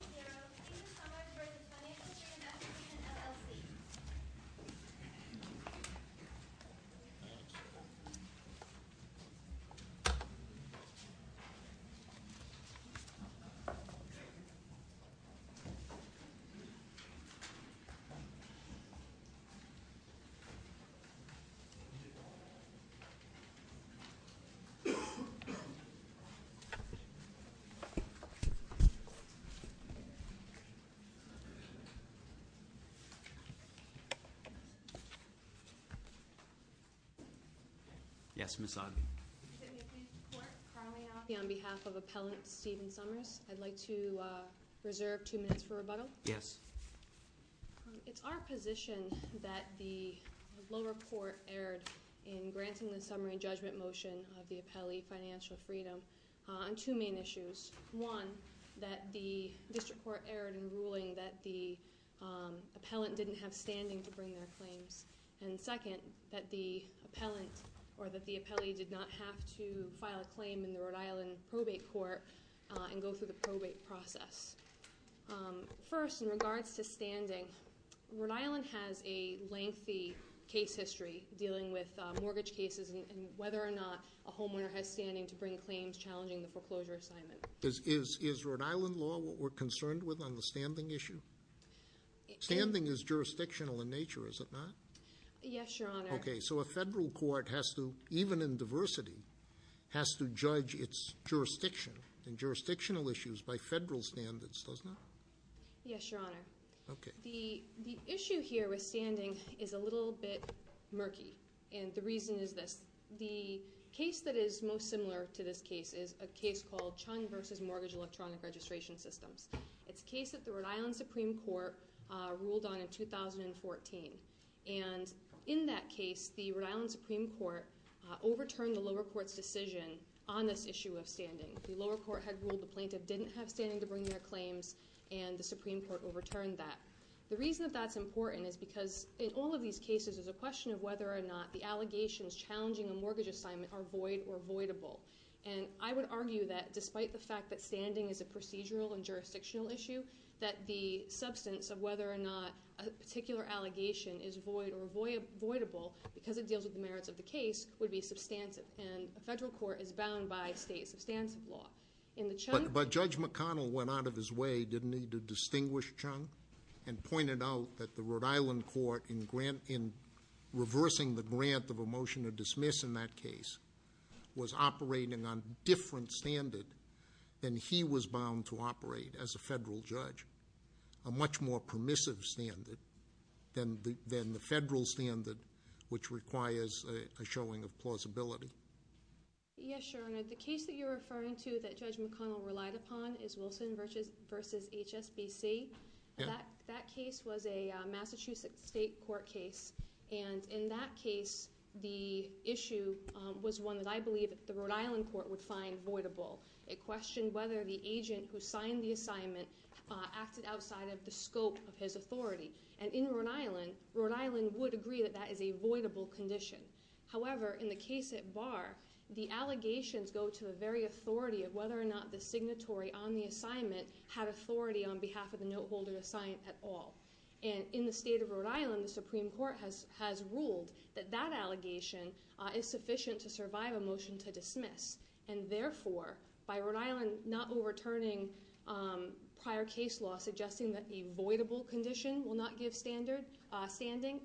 We are opening the summer for the Financial Freedom Association, LLC. On behalf of Appellant Stephen Summers, I'd like to reserve two minutes for rebuttal. It's our position that the lower court erred in granting the summary judgment motion of the appellee, Financial Freedom, on two main issues. One, that the district court erred in ruling that the appellant didn't have standing to bring their claims. And second, that the appellee did not have to file a claim in the Rhode Island probate court and go through the probate process. First, in regards to standing, Rhode Island has a lengthy case history dealing with mortgage cases and whether or not a homeowner has standing to bring claims challenging the foreclosure assignment. Is Rhode Island law what we're concerned with on the standing issue? Standing is jurisdictional in nature, is it not? Yes, Your Honor. Okay. So a federal court has to, even in diversity, has to judge its jurisdiction and jurisdictional issues by federal standards, does it not? Yes, Your Honor. Okay. The issue here with standing is a little bit murky, and the reason is this. The case that is most similar to this case is a case called Chung v. Mortgage Electronic Registration Systems. It's a case that the Rhode Island Supreme Court ruled on in 2014. And in that case, the Rhode Island Supreme Court overturned the lower court's decision on this issue of standing. The lower court had ruled the plaintiff didn't have standing to bring their claims, and the Supreme Court overturned that. The reason that that's important is because in all of these cases, there's a question of whether or not the allegations challenging a mortgage assignment are void or voidable. And I would argue that despite the fact that standing is a procedural and jurisdictional issue, that the substance of whether or not a particular allegation is void or voidable, because it deals with the merits of the case, would be substantive. And a federal court is bound by states' substantive law. But Judge McConnell went out of his way, didn't he, to distinguish Chung, and pointed out that the Rhode Island court, in reversing the grant of a motion to dismiss in that case, was operating on a different standard than he was bound to operate as a federal judge, a much more permissive standard than the federal standard, which requires a showing of plausibility. Yes, Your Honor. The case that you're referring to that Judge McConnell relied upon is Wilson v. HSBC. That case was a Massachusetts state court case. And in that case, the issue was one that I believe the Rhode Island court would find voidable. It questioned whether the agent who signed the assignment acted outside of the scope of his authority. And in Rhode Island, Rhode Island would agree that that is a voidable condition. However, in the case at Barr, the allegations go to the very authority of whether or not the signatory on the assignment had authority on behalf of the noteholder to sign at all. And in the state of Rhode Island, the Supreme Court has ruled that that allegation is sufficient to survive a motion to dismiss. And therefore, by Rhode Island not overturning prior case law suggesting that a voidable condition will not give standing,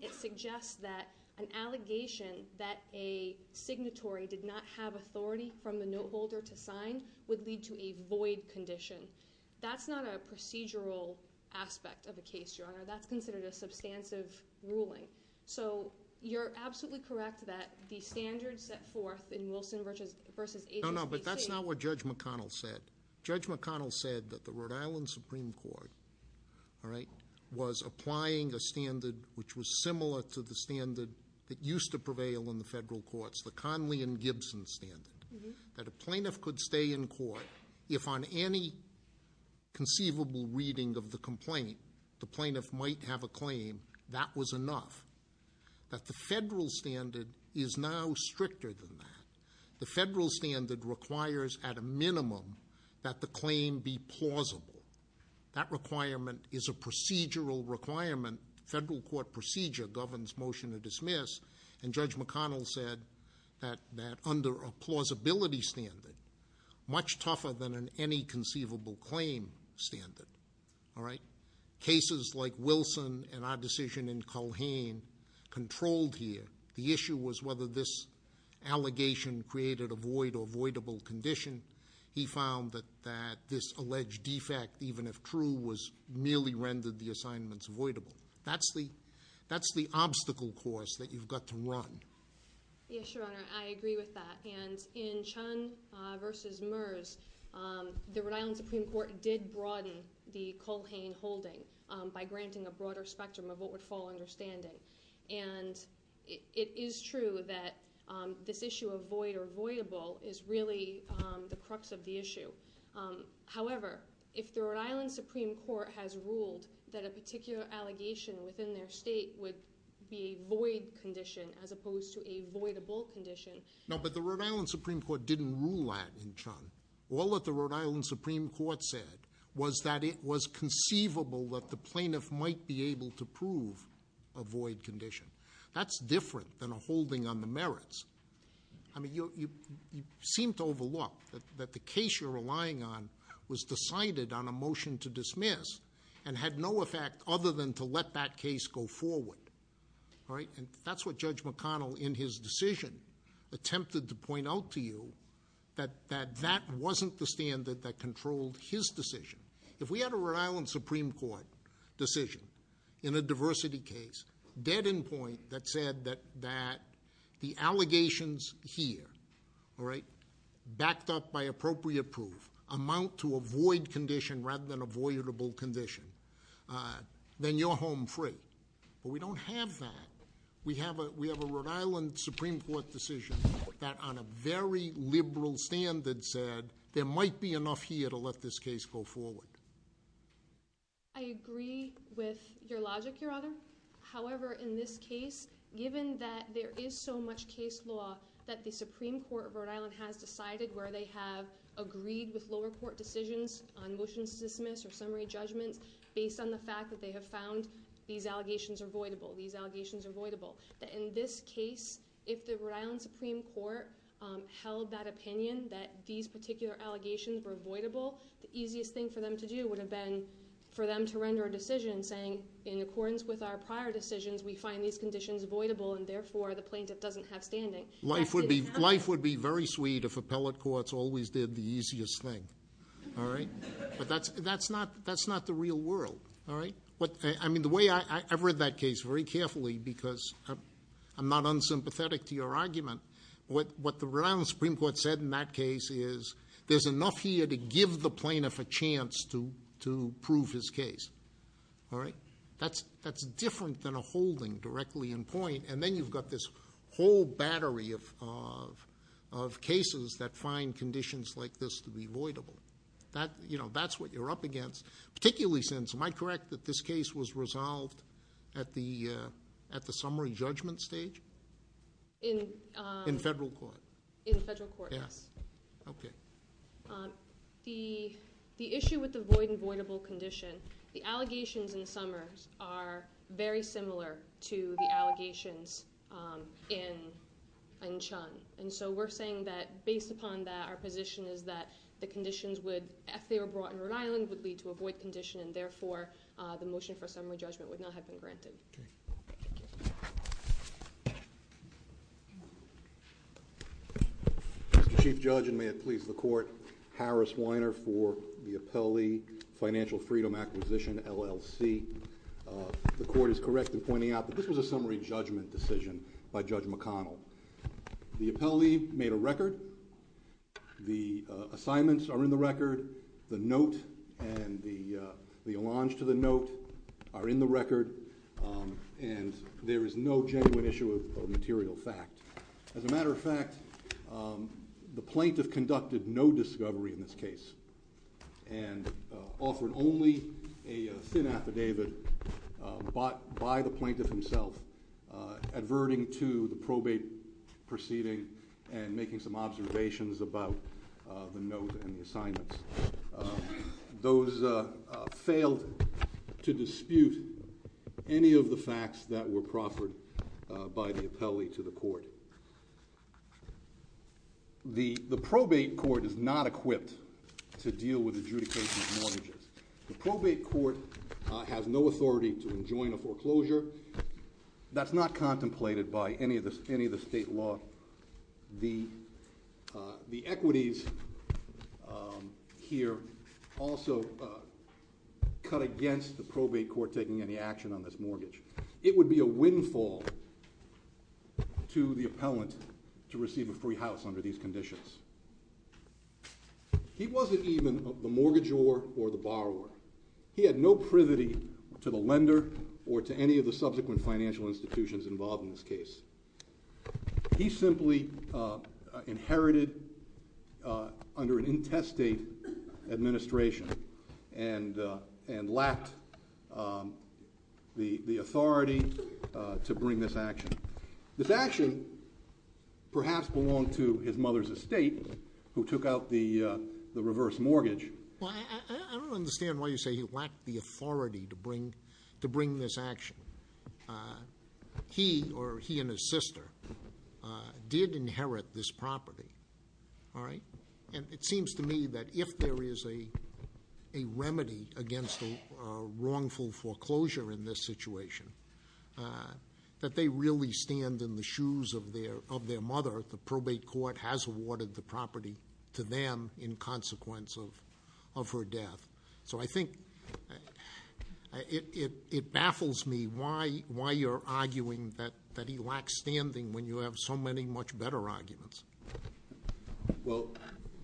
it suggests that an allegation that a signatory did not have authority from the noteholder to sign would lead to a void condition. That's not a procedural aspect of the case, Your Honor. That's considered a substantive ruling. So you're absolutely correct that the standards set forth in Wilson versus- No, no, but that's not what Judge McConnell said. Judge McConnell said that the Rhode Island Supreme Court, all right, was applying a standard which was similar to the standard that used to prevail in the federal courts, the Conley and Gibson standard, that a plaintiff could stay in court if on any conceivable reading of the complaint, the plaintiff might have a claim, that was enough. That the federal standard is now stricter than that. The federal standard requires at a minimum that the claim be plausible. That requirement is a procedural requirement. Federal court procedure governs motion to dismiss. And Judge McConnell said that under a plausibility standard, much tougher than in any conceivable claim standard. All right? Cases like Wilson and our decision in Culhane controlled here. The issue was whether this allegation created a void or voidable condition. He found that this alleged defect, even if true, was merely rendered the assignments voidable. That's the obstacle course that you've got to run. Yes, Your Honor, I agree with that. And in Chun v. Merz, the Rhode Island Supreme Court did broaden the Culhane holding by granting a broader spectrum of what would fall understanding. And it is true that this issue of void or voidable is really the crux of the issue. However, if the Rhode Island Supreme Court has ruled that a particular allegation within their state would be a void condition as opposed to a voidable condition. No, but the Rhode Island Supreme Court didn't rule that in Chun. All that the Rhode Island Supreme Court said was that it was conceivable that the plaintiff might be able to prove a void condition. That's different than a holding on the merits. I mean, you seem to overlook that the case you're relying on was decided on a motion to dismiss and had no effect other than to let that case go forward. All right, and that's what Judge McConnell in his decision attempted to point out to you, that that wasn't the standard that controlled his decision. If we had a Rhode Island Supreme Court decision in a diversity case dead in point that said that the allegations here, all right, backed up by appropriate proof amount to a void condition rather than a voidable condition, then you're home free. But we don't have that. We have a Rhode Island Supreme Court decision that on a very liberal standard said there might be enough here to let this case go forward. I agree with your logic, Your Honor. However, in this case, given that there is so much case law that the Supreme Court of Rhode Island has decided where they have agreed with lower court decisions on motions to dismiss or summary judgments based on the fact that they have found these allegations are voidable, these allegations are voidable, that in this case, if the Rhode Island Supreme Court held that opinion that these particular allegations were voidable, the easiest thing for them to do would have been for them to render a decision saying, in accordance with our prior decisions, we find these conditions voidable, and therefore, the plaintiff doesn't have standing. Life would be very sweet if appellate courts always did the easiest thing, all right? But that's not the real world, all right? I mean, the way I read that case very carefully, because I'm not unsympathetic to your argument, what the Rhode Island Supreme Court said in that case is there's enough here to give the plaintiff a chance to prove his case, all right? That's different than a holding directly in point, and then you've got this whole battery of cases that find conditions like this to be voidable. That's what you're up against, particularly since, am I correct that this case was resolved at the summary judgment stage? In federal court. In federal court, yes. Okay. The issue with the void and voidable condition, the allegations in Summers are very similar to the allegations in Chun. And so we're saying that based upon that, our position is that the conditions would, if they were brought in Rhode Island, would lead to a void condition, and therefore, the motion for summary judgment would not have been granted. Okay. Mr. Chief Judge, and may it please the Court, Harris Weiner for the Appellee Financial Freedom Acquisition, LLC. The Court is correct in pointing out that this was a summary judgment decision by Judge McConnell. The appellee made a record. The assignments are in the record. The note and the allonge to the note are in the record, and there is no genuine issue of material fact. As a matter of fact, the plaintiff conducted no discovery in this case and offered only a thin affidavit by the plaintiff himself, adverting to the probate proceeding and making some observations about the note and the assignments. Those failed to dispute any of the facts that were proffered by the appellee to the court. The probate court is not equipped to deal with adjudication of mortgages. The probate court has no authority to enjoin a foreclosure. That's not contemplated by any of the state law. The equities here also cut against the probate court taking any action on this mortgage. It would be a windfall to the appellant to receive a free house under these conditions. He wasn't even the mortgagor or the borrower. He had no privity to the lender or to any of the subsequent financial institutions involved in this case. He simply inherited under an intestate administration and lacked the authority to bring this action. This action perhaps belonged to his mother's estate who took out the reverse mortgage. Well, I don't understand why you say he lacked the authority to bring this action. He or he and his sister did inherit this property. All right? And it seems to me that if there is a remedy against a wrongful foreclosure in this situation, that they really stand in the shoes of their mother. The probate court has awarded the property to them in consequence of her death. So I think it baffles me why you're arguing that he lacks standing when you have so many much better arguments. Well,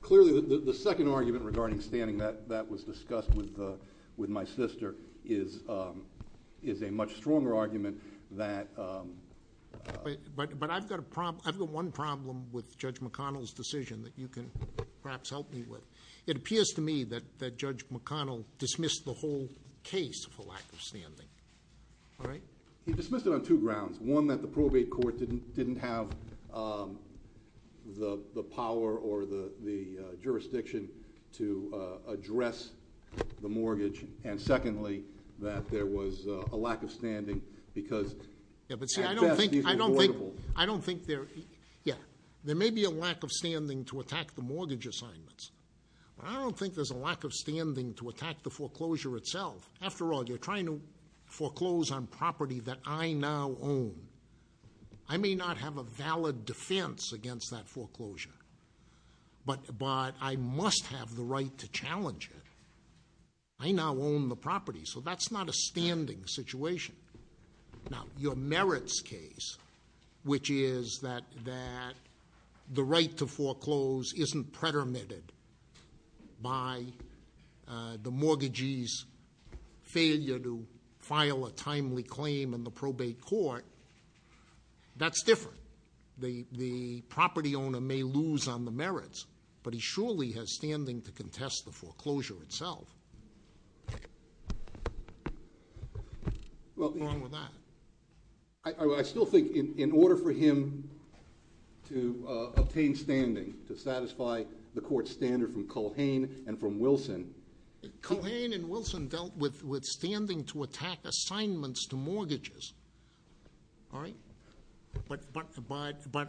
clearly the second argument regarding standing that was discussed with my sister is a much stronger argument that ‑‑ But I've got one problem with Judge McConnell's decision that you can perhaps help me with. It appears to me that Judge McConnell dismissed the whole case for lack of standing. All right? He dismissed it on two grounds. One, that the probate court didn't have the power or the jurisdiction to address the mortgage. And secondly, that there was a lack of standing because at best he was avoidable. Yeah. There may be a lack of standing to attack the mortgage assignments. I don't think there's a lack of standing to attack the foreclosure itself. After all, you're trying to foreclose on property that I now own. I may not have a valid defense against that foreclosure, but I must have the right to challenge it. I now own the property, so that's not a standing situation. Now, your merits case, which is that the right to foreclose isn't predominated by the mortgagee's failure to file a timely claim in the probate court, that's different. The property owner may lose on the merits, but he surely has standing to contest the foreclosure itself. What's wrong with that? I still think in order for him to obtain standing to satisfy the court's standard from Culhane and from Wilson. Culhane and Wilson dealt with standing to attack assignments to mortgages. All right? But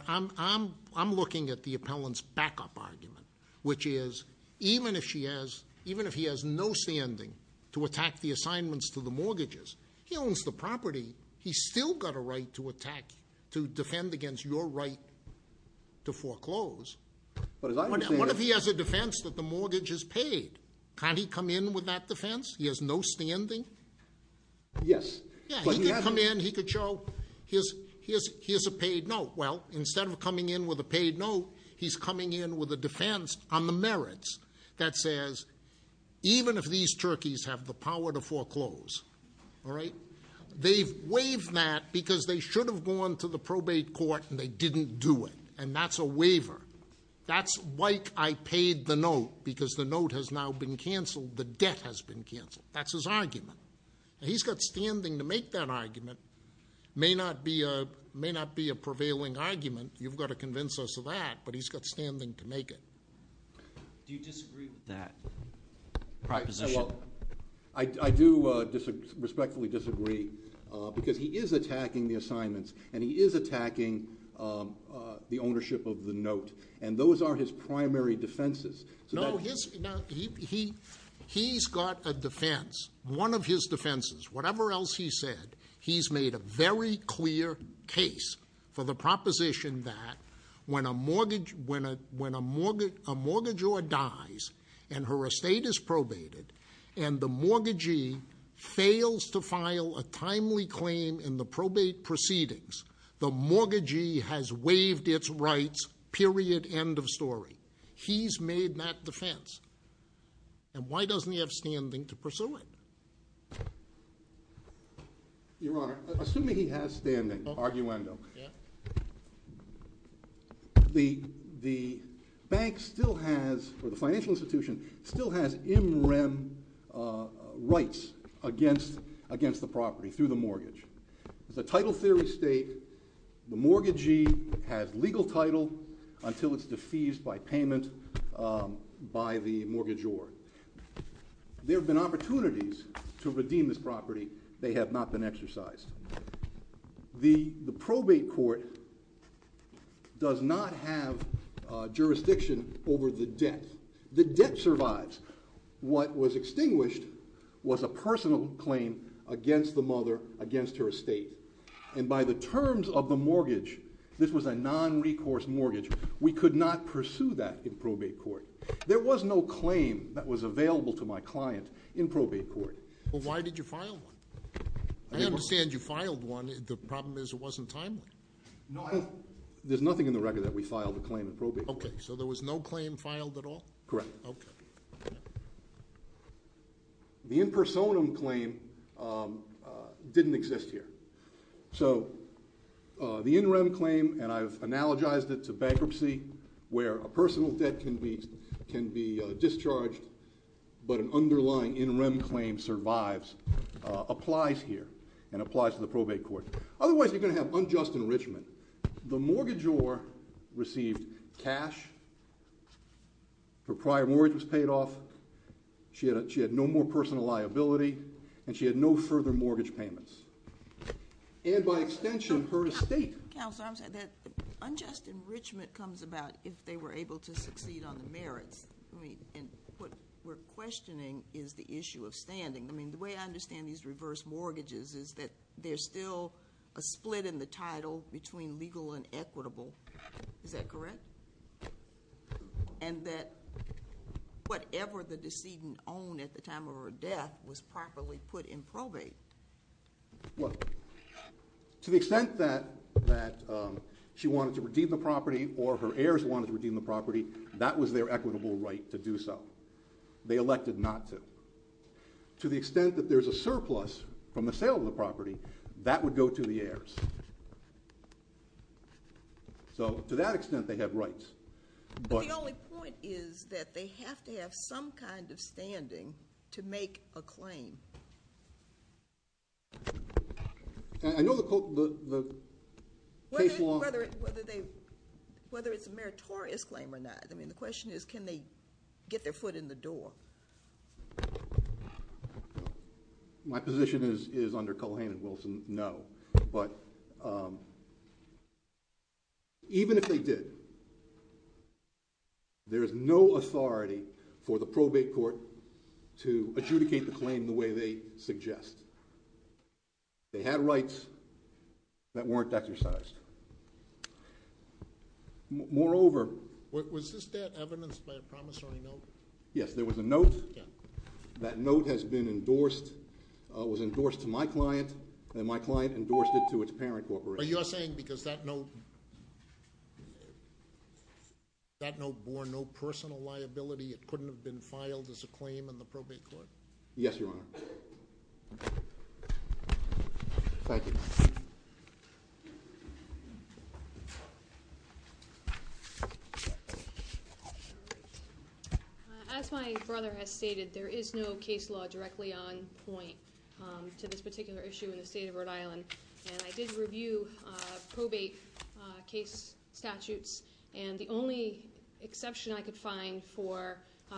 I'm looking at the appellant's backup argument, which is even if he has no standing to attack the assignments to the mortgages, he owns the property. He's still got a right to attack, to defend against your right to foreclose. But as I understand it. What if he has a defense that the mortgage is paid? Can't he come in with that defense? He has no standing? Yes. Yeah, he could come in, he could show here's a paid note. Well, instead of coming in with a paid note, he's coming in with a defense on the merits that says even if these turkeys have the power to foreclose, all right, they've waived that because they should have gone to the probate court and they didn't do it. And that's a waiver. That's like I paid the note because the note has now been canceled. The debt has been canceled. That's his argument. He's got standing to make that argument. May not be a prevailing argument. You've got to convince us of that, but he's got standing to make it. Do you disagree with that proposition? I do respectfully disagree because he is attacking the assignments and he is attacking the ownership of the note. And those are his primary defenses. No, he's got a defense. One of his defenses, whatever else he said, he's made a very clear case for the proposition that when a mortgagor dies and her estate is probated and the mortgagee fails to file a timely claim in the probate proceedings, the mortgagee has waived its rights, period, end of story. He's made that defense. And why doesn't he have standing to pursue it? Your Honor, assuming he has standing, arguendo, the bank still has, or the financial institution still has in rem rights against the property through the mortgage. It's a title theory state. The mortgagee has legal title until it's defeased by payment by the mortgagor. There have been opportunities to redeem this property. They have not been exercised. The probate court does not have jurisdiction over the debt. The debt survives. What was extinguished was a personal claim against the mother, against her estate. And by the terms of the mortgage, this was a non-recourse mortgage, we could not pursue that in probate court. There was no claim that was available to my client in probate court. Well, why did you file one? I understand you filed one. The problem is it wasn't timely. No, there's nothing in the record that we filed a claim in probate court. Okay, so there was no claim filed at all? Correct. Okay. The impersonum claim didn't exist here. So the in rem claim, and I've analogized it to bankruptcy where a personal debt can be discharged, but an underlying in rem claim survives, applies here and applies to the probate court. Otherwise, you're going to have unjust enrichment. The mortgagor received cash. Her prior mortgage was paid off. She had no more personal liability, and she had no further mortgage payments. And by extension, her estate. Counsel, unjust enrichment comes about if they were able to succeed on the merits. And what we're questioning is the issue of standing. I mean, the way I understand these reverse mortgages is that there's still a split in the title between legal and equitable. Is that correct? And that whatever the decedent owned at the time of her death was properly put in probate. Well, to the extent that she wanted to redeem the property or her heirs wanted to redeem the property, that was their equitable right to do so. They elected not to. To the extent that there's a surplus from the sale of the property, that would go to the heirs. So to that extent, they have rights. But the only point is that they have to have some kind of standing to make a claim. I know the case law. Whether it's a meritorious claim or not. I mean, the question is can they get their foot in the door? My position is under Culhane and Wilson, no. But even if they did, there is no authority for the probate court to adjudicate the claim the way they suggest. They had rights that weren't exercised. Moreover. Was this debt evidenced by a promissory note? Yes, there was a note. That note has been endorsed, was endorsed to my client, and my client endorsed it to its parent corporation. But you're saying because that note bore no personal liability, it couldn't have been filed as a claim in the probate court? Yes, Your Honor. Thank you. All right. As my brother has stated, there is no case law directly on point to this particular issue in the state of Rhode Island. And I did review probate case statutes. And the only exception I could find for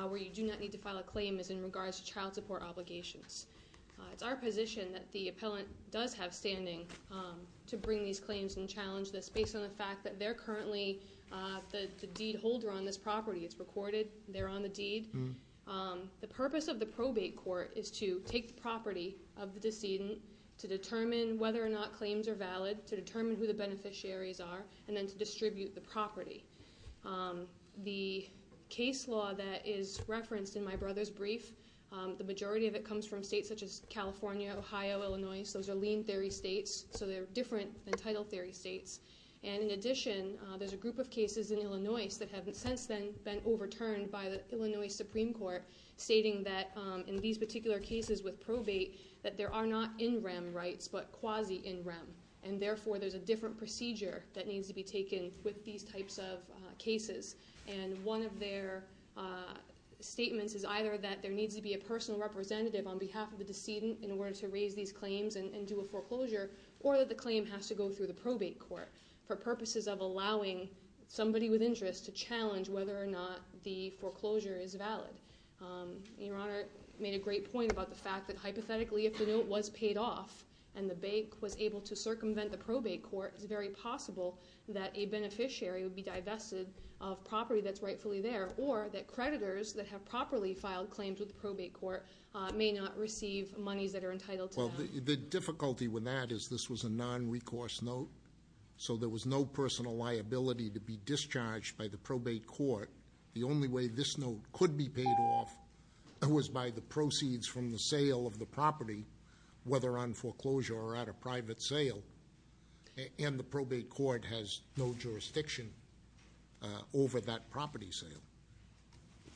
where you do not need to file a claim is in regards to child support obligations. It's our position that the appellant does have standing to bring these claims and challenge this, based on the fact that they're currently the deed holder on this property. It's recorded. They're on the deed. The purpose of the probate court is to take the property of the decedent, to determine whether or not claims are valid, to determine who the beneficiaries are, and then to distribute the property. The case law that is referenced in my brother's brief, the majority of it comes from states such as California, Ohio, Illinois. Those are lien theory states, so they're different than title theory states. And in addition, there's a group of cases in Illinois that have since then been overturned by the Illinois Supreme Court, stating that in these particular cases with probate, that there are not in rem rights, but quasi-in rem. And therefore, there's a different procedure that needs to be taken with these types of cases. And one of their statements is either that there needs to be a personal representative on behalf of the decedent in order to raise these claims and do a foreclosure, or that the claim has to go through the probate court, for purposes of allowing somebody with interest to challenge whether or not the foreclosure is valid. Your Honor made a great point about the fact that hypothetically, if the note was paid off, and the bank was able to circumvent the probate court, it's very possible that a beneficiary would be divested of property that's rightfully there, or that creditors that have properly filed claims with the probate court may not receive monies that are entitled to them. Well, the difficulty with that is this was a non-recourse note, so there was no personal liability to be discharged by the probate court. The only way this note could be paid off was by the proceeds from the sale of the property, whether on foreclosure or at a private sale, and the probate court has no jurisdiction over that property sale.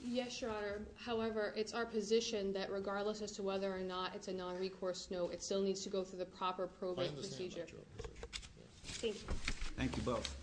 Yes, Your Honor. However, it's our position that regardless as to whether or not it's a non-recourse note, it still needs to go through the proper probate procedure. Thank you. Thank you both.